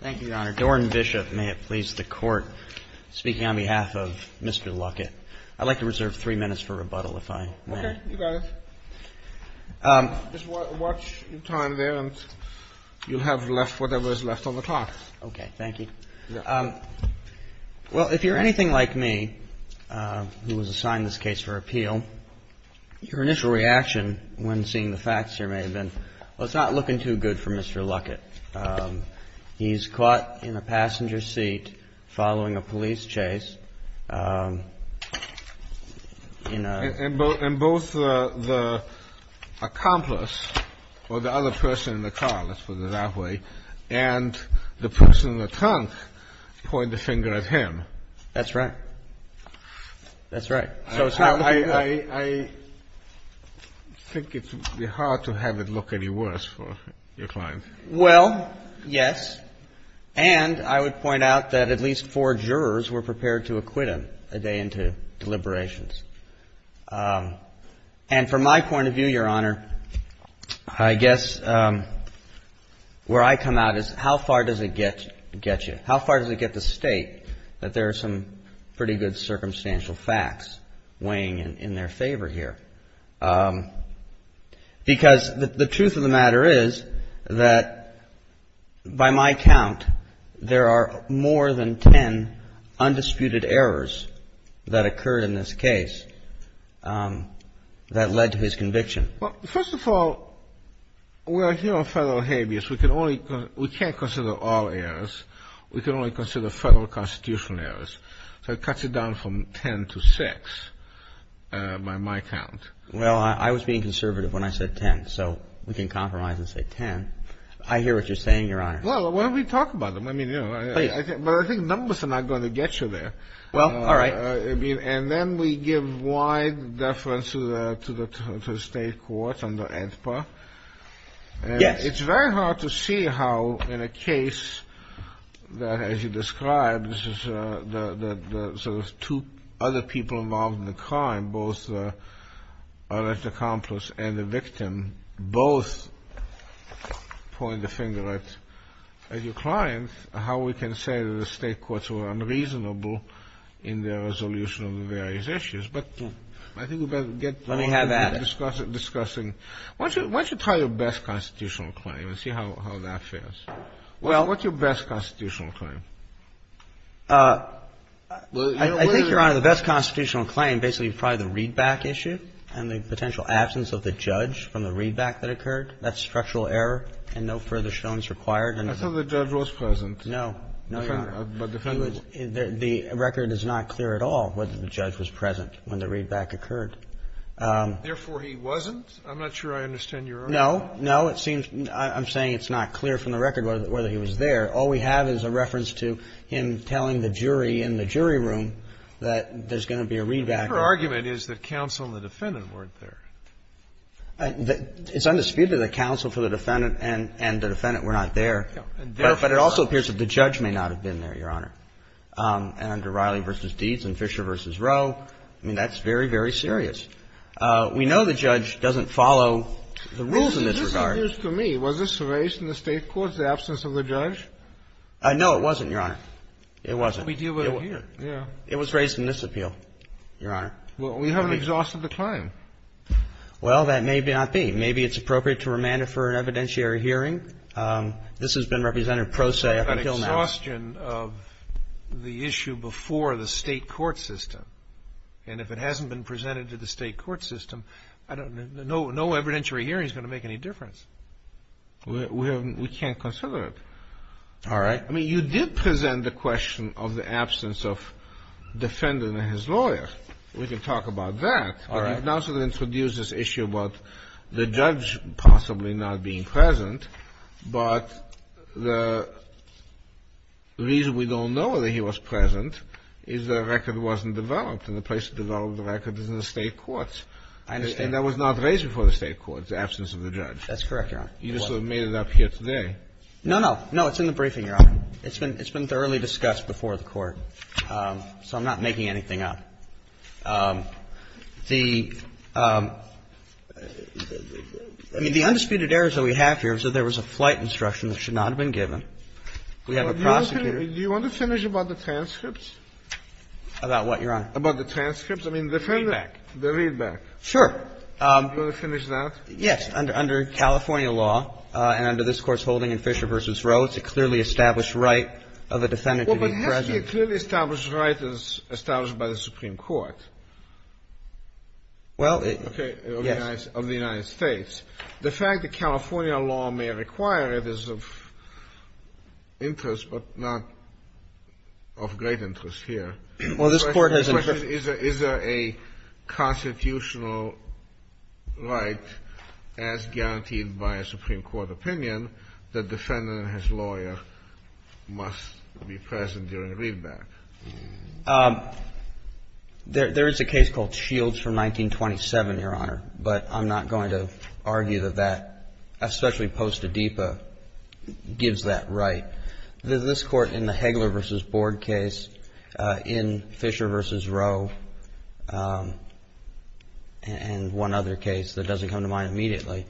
Thank you, Your Honor. Doran Bishop, may it please the Court, speaking on behalf of Mr. Luckett. I'd like to reserve three minutes for rebuttal, if I may. Okay, you got it. Just watch your time there, and you'll have left whatever is left on the clock. Okay, thank you. Well, if you're anything like me, who was assigned this case for appeal, your initial reaction when seeing the facts here may have been, well, it's not looking too good for Mr. Luckett. He's caught in a passenger seat following a police chase. And both the accomplice, or the other person in the car, let's put it that way, and the person in the trunk pointed the finger at him. That's right. That's right. I think it would be hard to have it look any worse for your client. Well, yes. And I would point out that at least four jurors were prepared to acquit him a day into deliberations. And from my point of view, Your Honor, I guess where I come out is how far does it get you? How far does it get the State that there are some pretty good circumstantial facts weighing in their favor here? Because the truth of the matter is that by my count, there are more than ten undisputed errors that occurred in this case that led to his conviction. Well, first of all, we're here on federal habeas. We can't consider all errors. We can only consider federal constitutional errors. So it cuts it down from ten to six by my count. Well, I was being conservative when I said ten, so we can compromise and say ten. I hear what you're saying, Your Honor. Well, why don't we talk about them? I mean, you know, I think numbers are not going to get you there. Well, all right. And then we give wide deference to the State courts under AEDPA. Yes. It's very hard to see how in a case that, as you described, this is the sort of two other people involved in the crime, both the alleged accomplice and the victim, both point the finger at your client, and how we can say that the State courts were unreasonable in their resolution of the various issues. But I think we better get to discussing. Let me have at it. Why don't you try your best constitutional claim and see how that fares? What's your best constitutional claim? I think, Your Honor, the best constitutional claim basically is probably the readback issue and the potential absence of the judge from the readback that occurred. That's structural error and no further showing is required. I thought the judge was present. No. No, Your Honor. The record is not clear at all whether the judge was present when the readback occurred. Therefore, he wasn't? I'm not sure I understand your argument. No. No. It seems I'm saying it's not clear from the record whether he was there. All we have is a reference to him telling the jury in the jury room that there's going to be a readback. Your argument is that counsel and the defendant weren't there. It's undisputed that counsel for the defendant and the defendant were not there. But it also appears that the judge may not have been there, Your Honor. And under Riley v. Deeds and Fisher v. Rowe, I mean, that's very, very serious. We know the judge doesn't follow the rules in this regard. This appears to me. Was this raised in the State courts, the absence of the judge? No, it wasn't, Your Honor. It wasn't. We deal with it here. Yeah. It was raised in this appeal, Your Honor. Well, we haven't exhausted the claim. Well, that may not be. Maybe it's appropriate to remand it for an evidentiary hearing. This has been represented pro se up until now. We haven't had exhaustion of the issue before the State court system. And if it hasn't been presented to the State court system, I don't know, no evidentiary hearing is going to make any difference. We can't consider it. All right. I mean, you did present the question of the absence of defendant and his lawyer. We can talk about that. You've now sort of introduced this issue about the judge possibly not being present. But the reason we don't know that he was present is the record wasn't developed. And the place to develop the record is in the State courts. I understand. And that was not raised before the State courts, the absence of the judge. That's correct, Your Honor. You just sort of made it up here today. No, no. No, it's in the briefing, Your Honor. It's been thoroughly discussed before the court. So I'm not making anything up. The undisputed errors that we have here is that there was a flight instruction that should not have been given. We have a prosecutor. Do you want to finish about the transcripts? About what, Your Honor? About the transcripts. I mean, the feedback, the readback. Sure. Do you want to finish that? Yes. Under California law and under this Court's holding in Fisher v. Rowe, it's a clearly established right of a defendant to be present. Well, but it has to be a clearly established right as established by the Supreme Court. Well, yes. Okay, of the United States. The fact that California law may require it is of interest, but not of great interest here. Well, this Court has interest. Is there a constitutional right as guaranteed by a Supreme Court opinion that defendant and his lawyer must be present during a readback? There is a case called Shields from 1927, Your Honor, but I'm not going to argue that that, especially post-ADIPA, gives that right. This Court in the Hagler v. Board case, in Fisher v. Rowe, and one other case that doesn't come to mind immediately,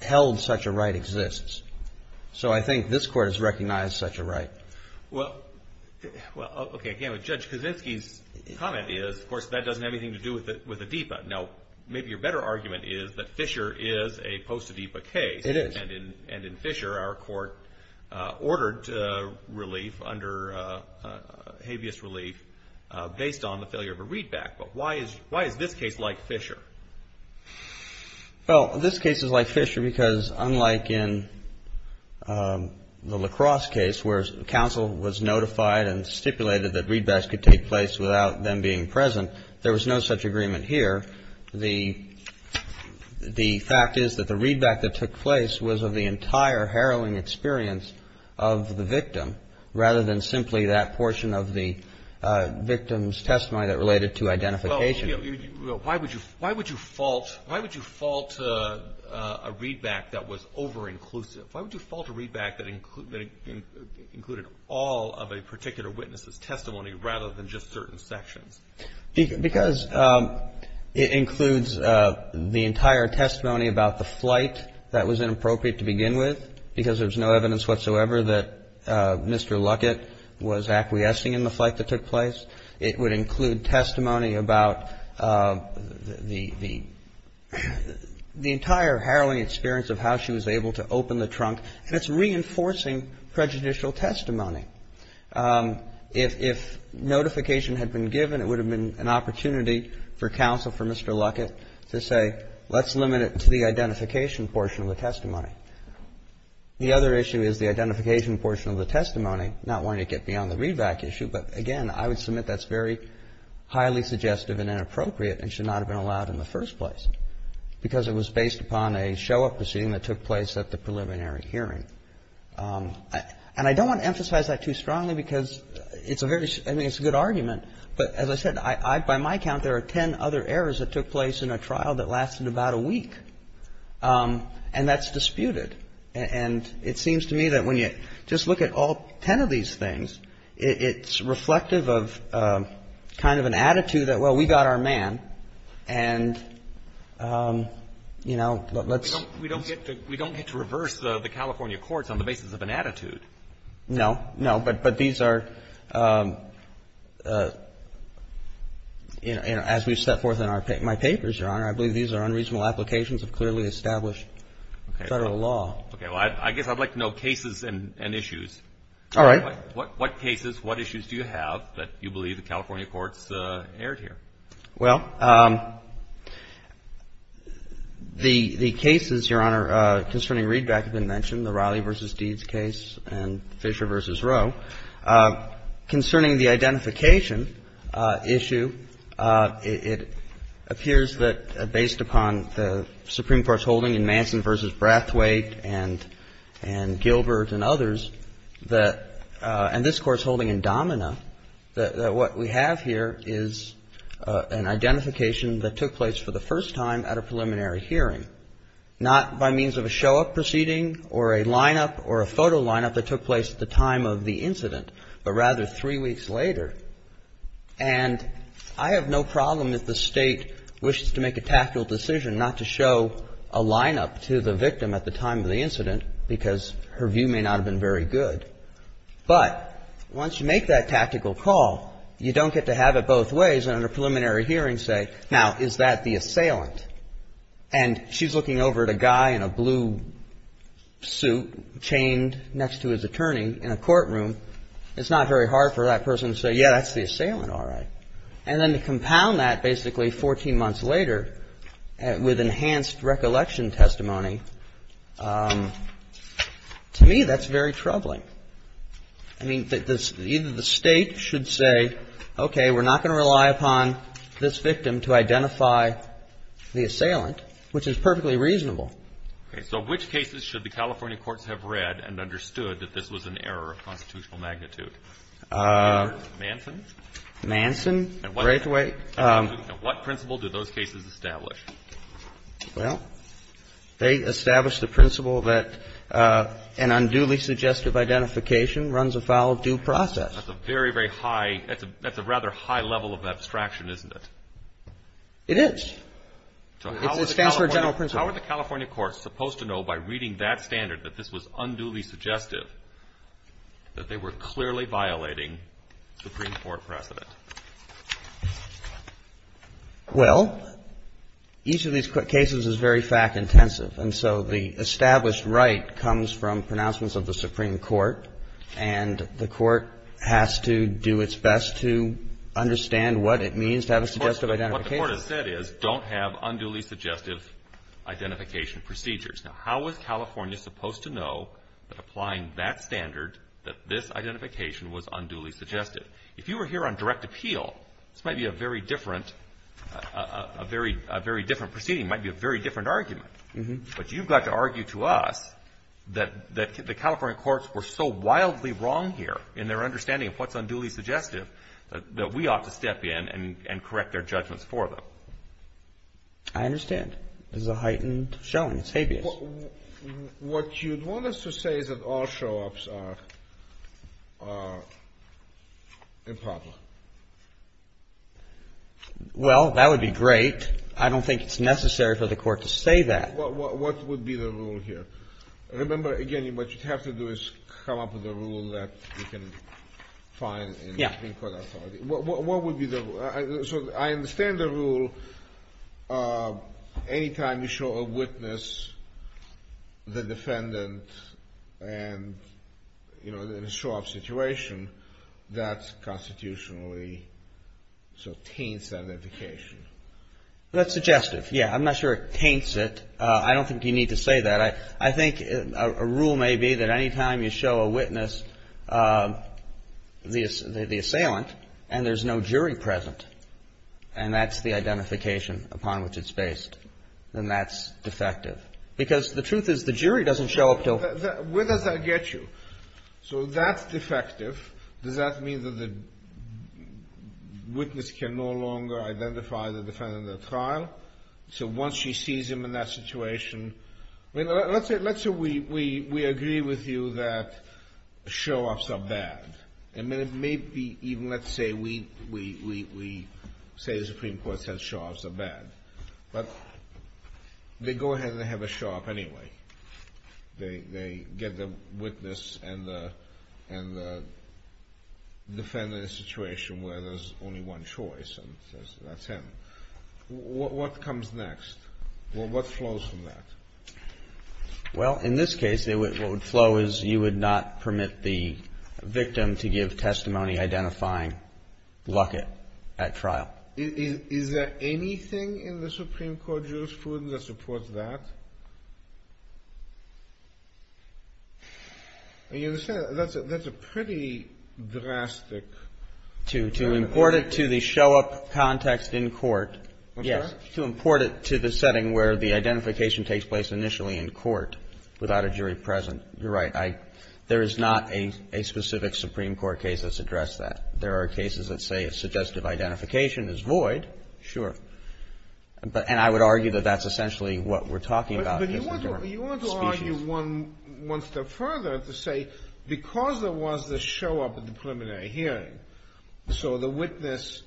held such a right exists. So I think this Court has recognized such a right. Well, okay, again, with Judge Kaczynski's comment is, of course, that doesn't have anything to do with ADIPA. Now, maybe your better argument is that Fisher is a post-ADIPA case. It is. And in Fisher, our Court ordered relief under habeas relief based on the failure of a readback. But why is this case like Fisher? Well, this case is like Fisher because unlike in the LaCrosse case where counsel was notified and stipulated that readbacks could take place without them being present, there was no such agreement here. The fact is that the readback that took place was of the entire harrowing experience of the victim rather than simply that portion of the victim's testimony that related to identification. Well, why would you fault a readback that was over-inclusive? Why would you fault a readback that included all of a particular witness's testimony rather than just certain sections? Because it includes the entire testimony about the flight that was inappropriate to begin with because there's no evidence whatsoever that Mr. Luckett was acquiescing in the flight that took place. It would include testimony about the entire harrowing experience of how she was able to open the trunk, and it's reinforcing prejudicial testimony. If notification had been given, it would have been an opportunity for counsel, for Mr. Luckett, to say, let's limit it to the identification portion of the testimony. The other issue is the identification portion of the testimony, not wanting to get me on the readback issue, but, again, I would submit that's very highly suggestive and inappropriate and should not have been allowed in the first place because it was based upon a show-up proceeding that took place at the preliminary hearing. And I don't want to emphasize that too strongly because it's a very – I mean, it's a good argument, but as I said, I – by my count, there are ten other errors that took place in a trial that lasted about a week, and that's disputed. And it seems to me that when you just look at all ten of these things, it's reflective of kind of an attitude that, well, we got our man, and, you know, let's – We don't get to reverse the California courts on the basis of an attitude. No. No. But these are, you know, as we've set forth in our – my papers, Your Honor, I believe these are unreasonable applications of clearly established Federal law. Okay. Well, I guess I'd like to know cases and issues. All right. What cases, what issues do you have that you believe the California courts aired here? Well, the cases, Your Honor, concerning readback have been mentioned, the Raleigh v. Deeds case and Fisher v. Rowe. Concerning the identification issue, it appears that based upon the Supreme Court's holding in Manson v. Brathwaite and Gilbert and others that – and this Court's holding in Domina that what we have here is an identification that took place for the first time at a preliminary hearing, not by means of a show-up proceeding or a line-up or a photo line-up that took place at the time of the incident, but rather three weeks later. And I have no problem if the State wishes to make a tactical decision not to show a line-up to the victim at the time of the incident because her view may not have been very good. But once you make that tactical call, you don't get to have it both ways and at a preliminary hearing say, now, is that the assailant? And she's looking over at a guy in a blue suit chained next to his attorney in a courtroom. It's not very hard for that person to say, yeah, that's the assailant, all right. And then to compound that basically 14 months later with enhanced recollection testimony, to me, that's very troubling. I mean, either the State should say, okay, we're not going to rely upon this victim to identify the assailant, which is perfectly reasonable. Okay. So which cases should the California courts have read and understood that this was an error of constitutional magnitude? Manson? Manson, Braithwaite. And what principle do those cases establish? Well, they establish the principle that an unduly suggestive identification runs afoul of due process. That's a very, very high – that's a rather high level of abstraction, isn't it? It is. It stands for a general principle. And how are the California courts supposed to know by reading that standard that this was unduly suggestive that they were clearly violating Supreme Court precedent? Well, each of these cases is very fact-intensive. And so the established right comes from pronouncements of the Supreme Court, and the court has to do its best to understand what it means to have a suggestive identification. What the court has said is don't have unduly suggestive identification procedures. Now, how is California supposed to know that applying that standard that this identification was unduly suggestive? If you were here on direct appeal, this might be a very different – a very different proceeding, might be a very different argument. But you've got to argue to us that the California courts were so wildly wrong here in their understanding of what's unduly suggestive that we ought to step in and correct their judgments for them. I understand. This is a heightened showing. It's habeas. What you'd want us to say is that all show-ups are improper. Well, that would be great. I don't think it's necessary for the court to say that. What would be the rule here? Remember, again, what you'd have to do is come up with a rule that you can find in the Supreme Court authority. What would be the – so I understand the rule, anytime you show a witness, the defendant, and, you know, in a show-up situation, that's constitutionally – so taints that indication. That's suggestive, yeah. I'm not sure it taints it. I don't think you need to say that. I think a rule may be that anytime you show a witness, the assailant, and there's no jury present, and that's the identification upon which it's based, then that's defective. Because the truth is, the jury doesn't show up until – Where does that get you? So that's defective. Does that mean that the witness can no longer identify the defendant in the trial? So once she sees him in that situation – let's say we agree with you that show-ups are bad. And maybe even let's say we say the Supreme Court says show-ups are bad. But they go ahead and they have a show-up anyway. They get the witness and the defendant in a situation where there's only one choice, and that's him. What comes next? What flows from that? Well, in this case, what would flow is you would not permit the victim to give testimony identifying Luckett at trial. Is there anything in the Supreme Court jurisprudence that supports that? That's a pretty drastic – To import it to the show-up context in court – Yes. To import it to the setting where the identification takes place initially in court without a jury present. You're right. There is not a specific Supreme Court case that's addressed that. There are cases that say if suggestive identification is void – Sure. And I would argue that that's essentially what we're talking about. But you want to argue one step further to say because there was the show-up at the preliminary hearing, so the witness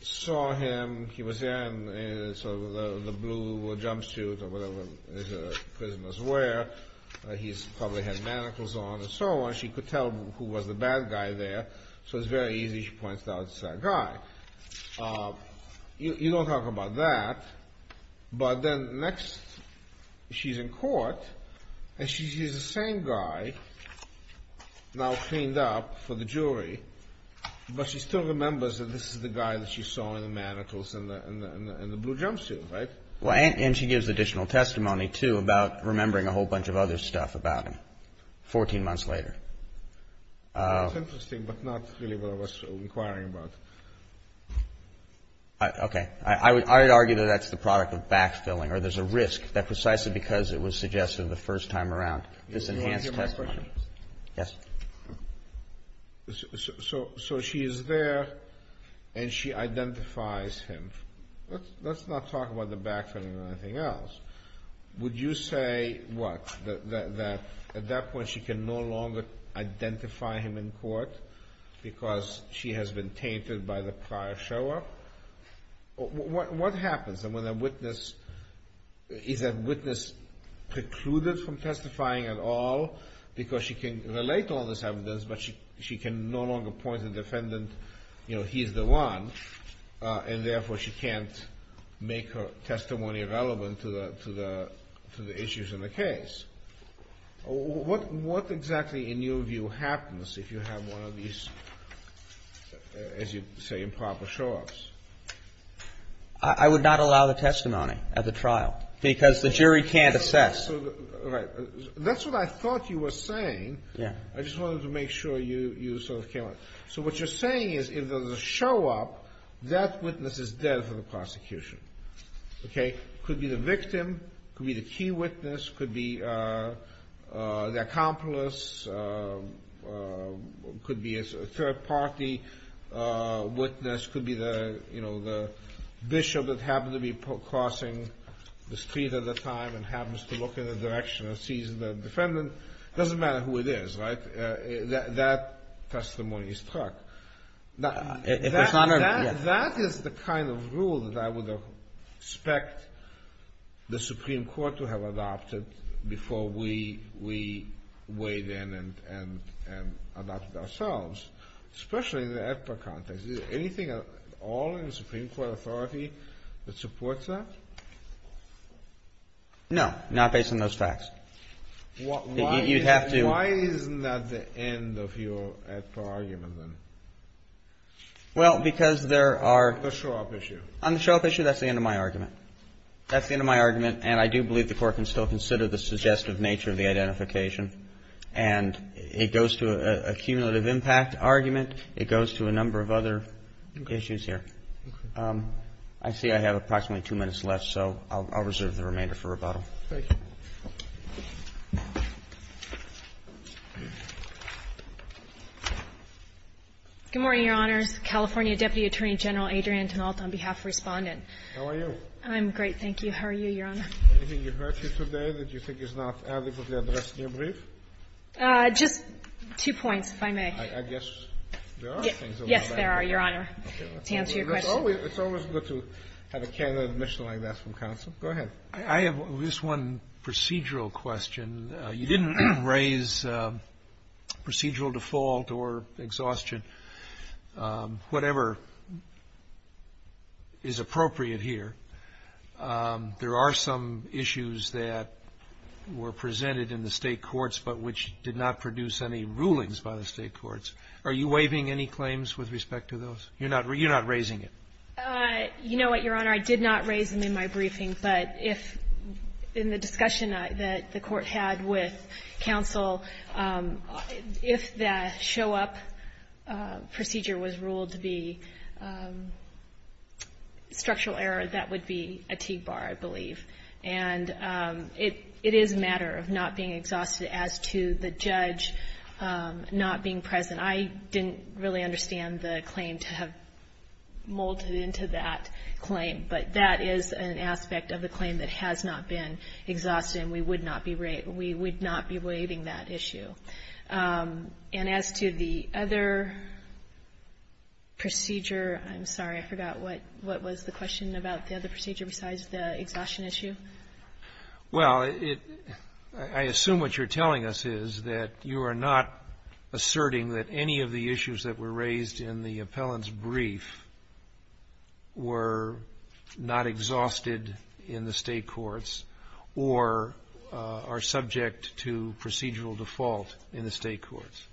saw him, he was there in sort of the blue jumpsuit or whatever prisoners wear. He probably had manacles on and so on. She could tell who was the bad guy there, so it's very easy, she points out, it's that guy. You don't talk about that, but then next she's in court and she sees the same guy now cleaned up for the jury. But she still remembers that this is the guy that she saw in the manacles and the blue jumpsuit, right? And she gives additional testimony, too, about remembering a whole bunch of other stuff about him 14 months later. That's interesting, but not really what I was inquiring about. Okay. I would argue that that's the product of backfilling or there's a risk that precisely because it was suggested the first time around, this enhanced testimony – So she is there and she identifies him. Let's not talk about the backfilling or anything else. Would you say, what, that at that point she can no longer identify him in court because she has been tainted by the prior show-up? What happens when a witness – is that witness precluded from testifying at all because she can relate to all this evidence, but she can no longer point to the defendant, you know, he's the one, and therefore she can't make her testimony relevant to the issues in the case? What exactly, in your view, happens if you have one of these, as you say, improper show-ups? I would not allow the testimony at the trial because the jury can't assess. That's what I thought you were saying. I just wanted to make sure you sort of came on. So what you're saying is if there's a show-up, that witness is dead for the prosecution. Could be the victim, could be the key witness, could be the accomplice, could be a third-party witness, could be the, you know, the bishop that happened to be crossing the street at the time and happens to look in the direction and sees the defendant. It doesn't matter who it is, right? That testimony is struck. If it's not a – That is the kind of rule that I would expect the Supreme Court to have adopted before we weighed in and adopted ourselves, especially in the AEDPA context. Is there anything at all in the Supreme Court authority that supports that? No, not based on those facts. You'd have to – Why isn't that the end of your AEDPA argument, then? Well, because there are – The show-up issue. On the show-up issue, that's the end of my argument. That's the end of my argument, and I do believe the Court can still consider the suggestive nature of the identification. And it goes to a cumulative impact argument. It goes to a number of other issues here. Okay. I see I have approximately two minutes left, so I'll reserve the remainder for rebuttal. Thank you. Good morning, Your Honors. California Deputy Attorney General Adrian Tenault on behalf of Respondent. How are you? I'm great, thank you. How are you, Your Honor? Anything you heard here today that you think is not adequately addressed in your brief? Just two points, if I may. I guess there are things that we can – Yes, there are, Your Honor, to answer your question. It's always good to have a candid admission like that from counsel. Go ahead. I have just one procedural question. You didn't raise procedural default or exhaustion, whatever is appropriate here. There are some issues that were presented in the State courts but which did not produce any rulings by the State courts. Are you waiving any claims with respect to those? You're not raising it. You know what, Your Honor? I did not raise them in my briefing. But if – in the discussion that the Court had with counsel, if that show-up procedure was ruled to be structural error, that would be a TIG bar, I believe. And it is a matter of not being exhausted. As to the judge not being present, I didn't really understand the claim to have molded into that claim. But that is an aspect of the claim that has not been exhausted, and we would not be waiving that issue. And as to the other procedure, I'm sorry, I forgot what was the question about the other procedure besides the exhaustion issue? Well, I assume what you're telling us is that you are not asserting that any of the issues that were raised in the appellant's brief were not exhausted in the State courts or are subject to procedural default in the State courts.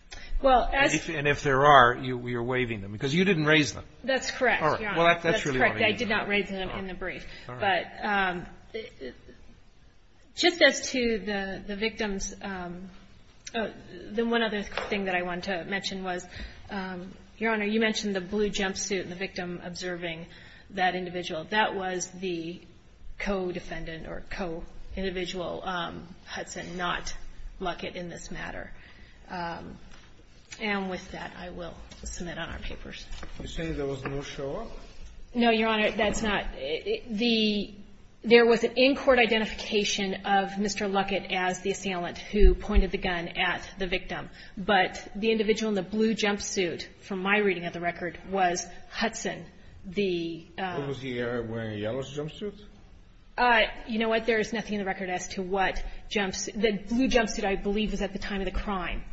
Well, as — And if there are, you're waiving them. Because you didn't raise them. That's correct, Your Honor. Well, that's really all I need to know. That's correct. I did not raise them in the brief. But just as to the victims, the one other thing that I want to mention was, Your Honor, you mentioned the blue jumpsuit and the victim observing that individual. That was the co-defendant or co-individual, Hudson, not Luckett, in this matter. And with that, I will submit on our papers. You're saying there was no show-off? No, Your Honor, that's not — the — there was an in-court identification of Mr. Luckett as the assailant who pointed the gun at the victim. But the individual in the blue jumpsuit, from my reading of the record, was Hudson, the — Was he wearing a yellow jumpsuit? You know what? There is nothing in the record as to what jumps — the blue jumpsuit, I believe, was at the time of the crime.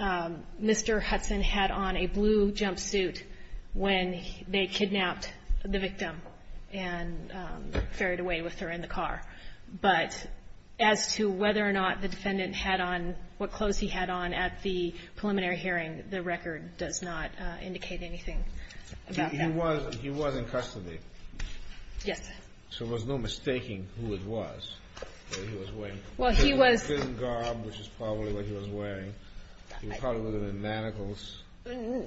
Mr. Hudson had on a blue jumpsuit when they kidnapped the victim and ferried away with her in the car. But as to whether or not the defendant had on what clothes he had on at the preliminary hearing, the record does not indicate anything about that. He was — he was in custody. Yes. So it was no mistaking who it was that he was wearing. Well, he was — A prison garb, which is probably what he was wearing. He probably was wearing manacles. No.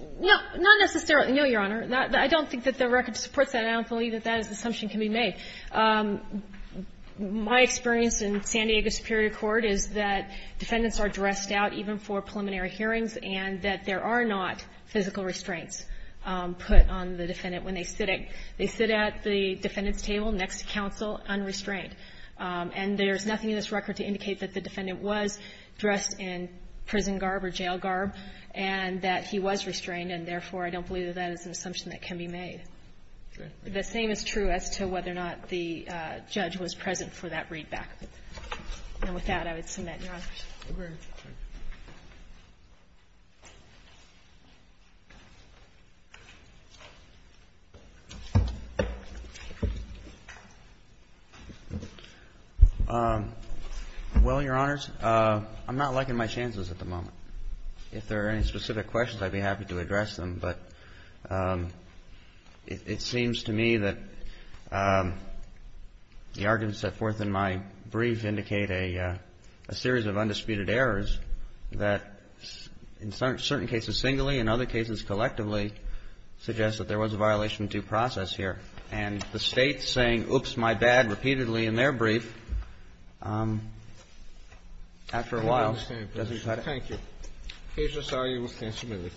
Not necessarily. No, Your Honor. I don't think that the record supports that. I don't believe that that assumption can be made. My experience in San Diego Superior Court is that defendants are dressed out, even for preliminary hearings, and that there are not physical restraints put on the defendant when they sit at — they sit at the defendant's table next to counsel unrestrained. And there's nothing in this record to indicate that the defendant was dressed in prison garb or jail garb and that he was restrained, and therefore, I don't believe that that is an assumption that can be made. The same is true as to whether or not the judge was present for that readback. And with that, I would submit, Your Honor. Thank you, Your Honors. Well, Your Honors, I'm not liking my chances at the moment. If there are any specific questions, I'd be happy to address them. But it seems to me that the arguments set forth in my brief indicate a series of undisputed errors that, in certain cases singly and other cases collectively, suggest that there was a violation of due process here. And the State saying, oops, my bad, repeatedly in their brief, after a while, doesn't cut it. Thank you. The case is argued with testimony.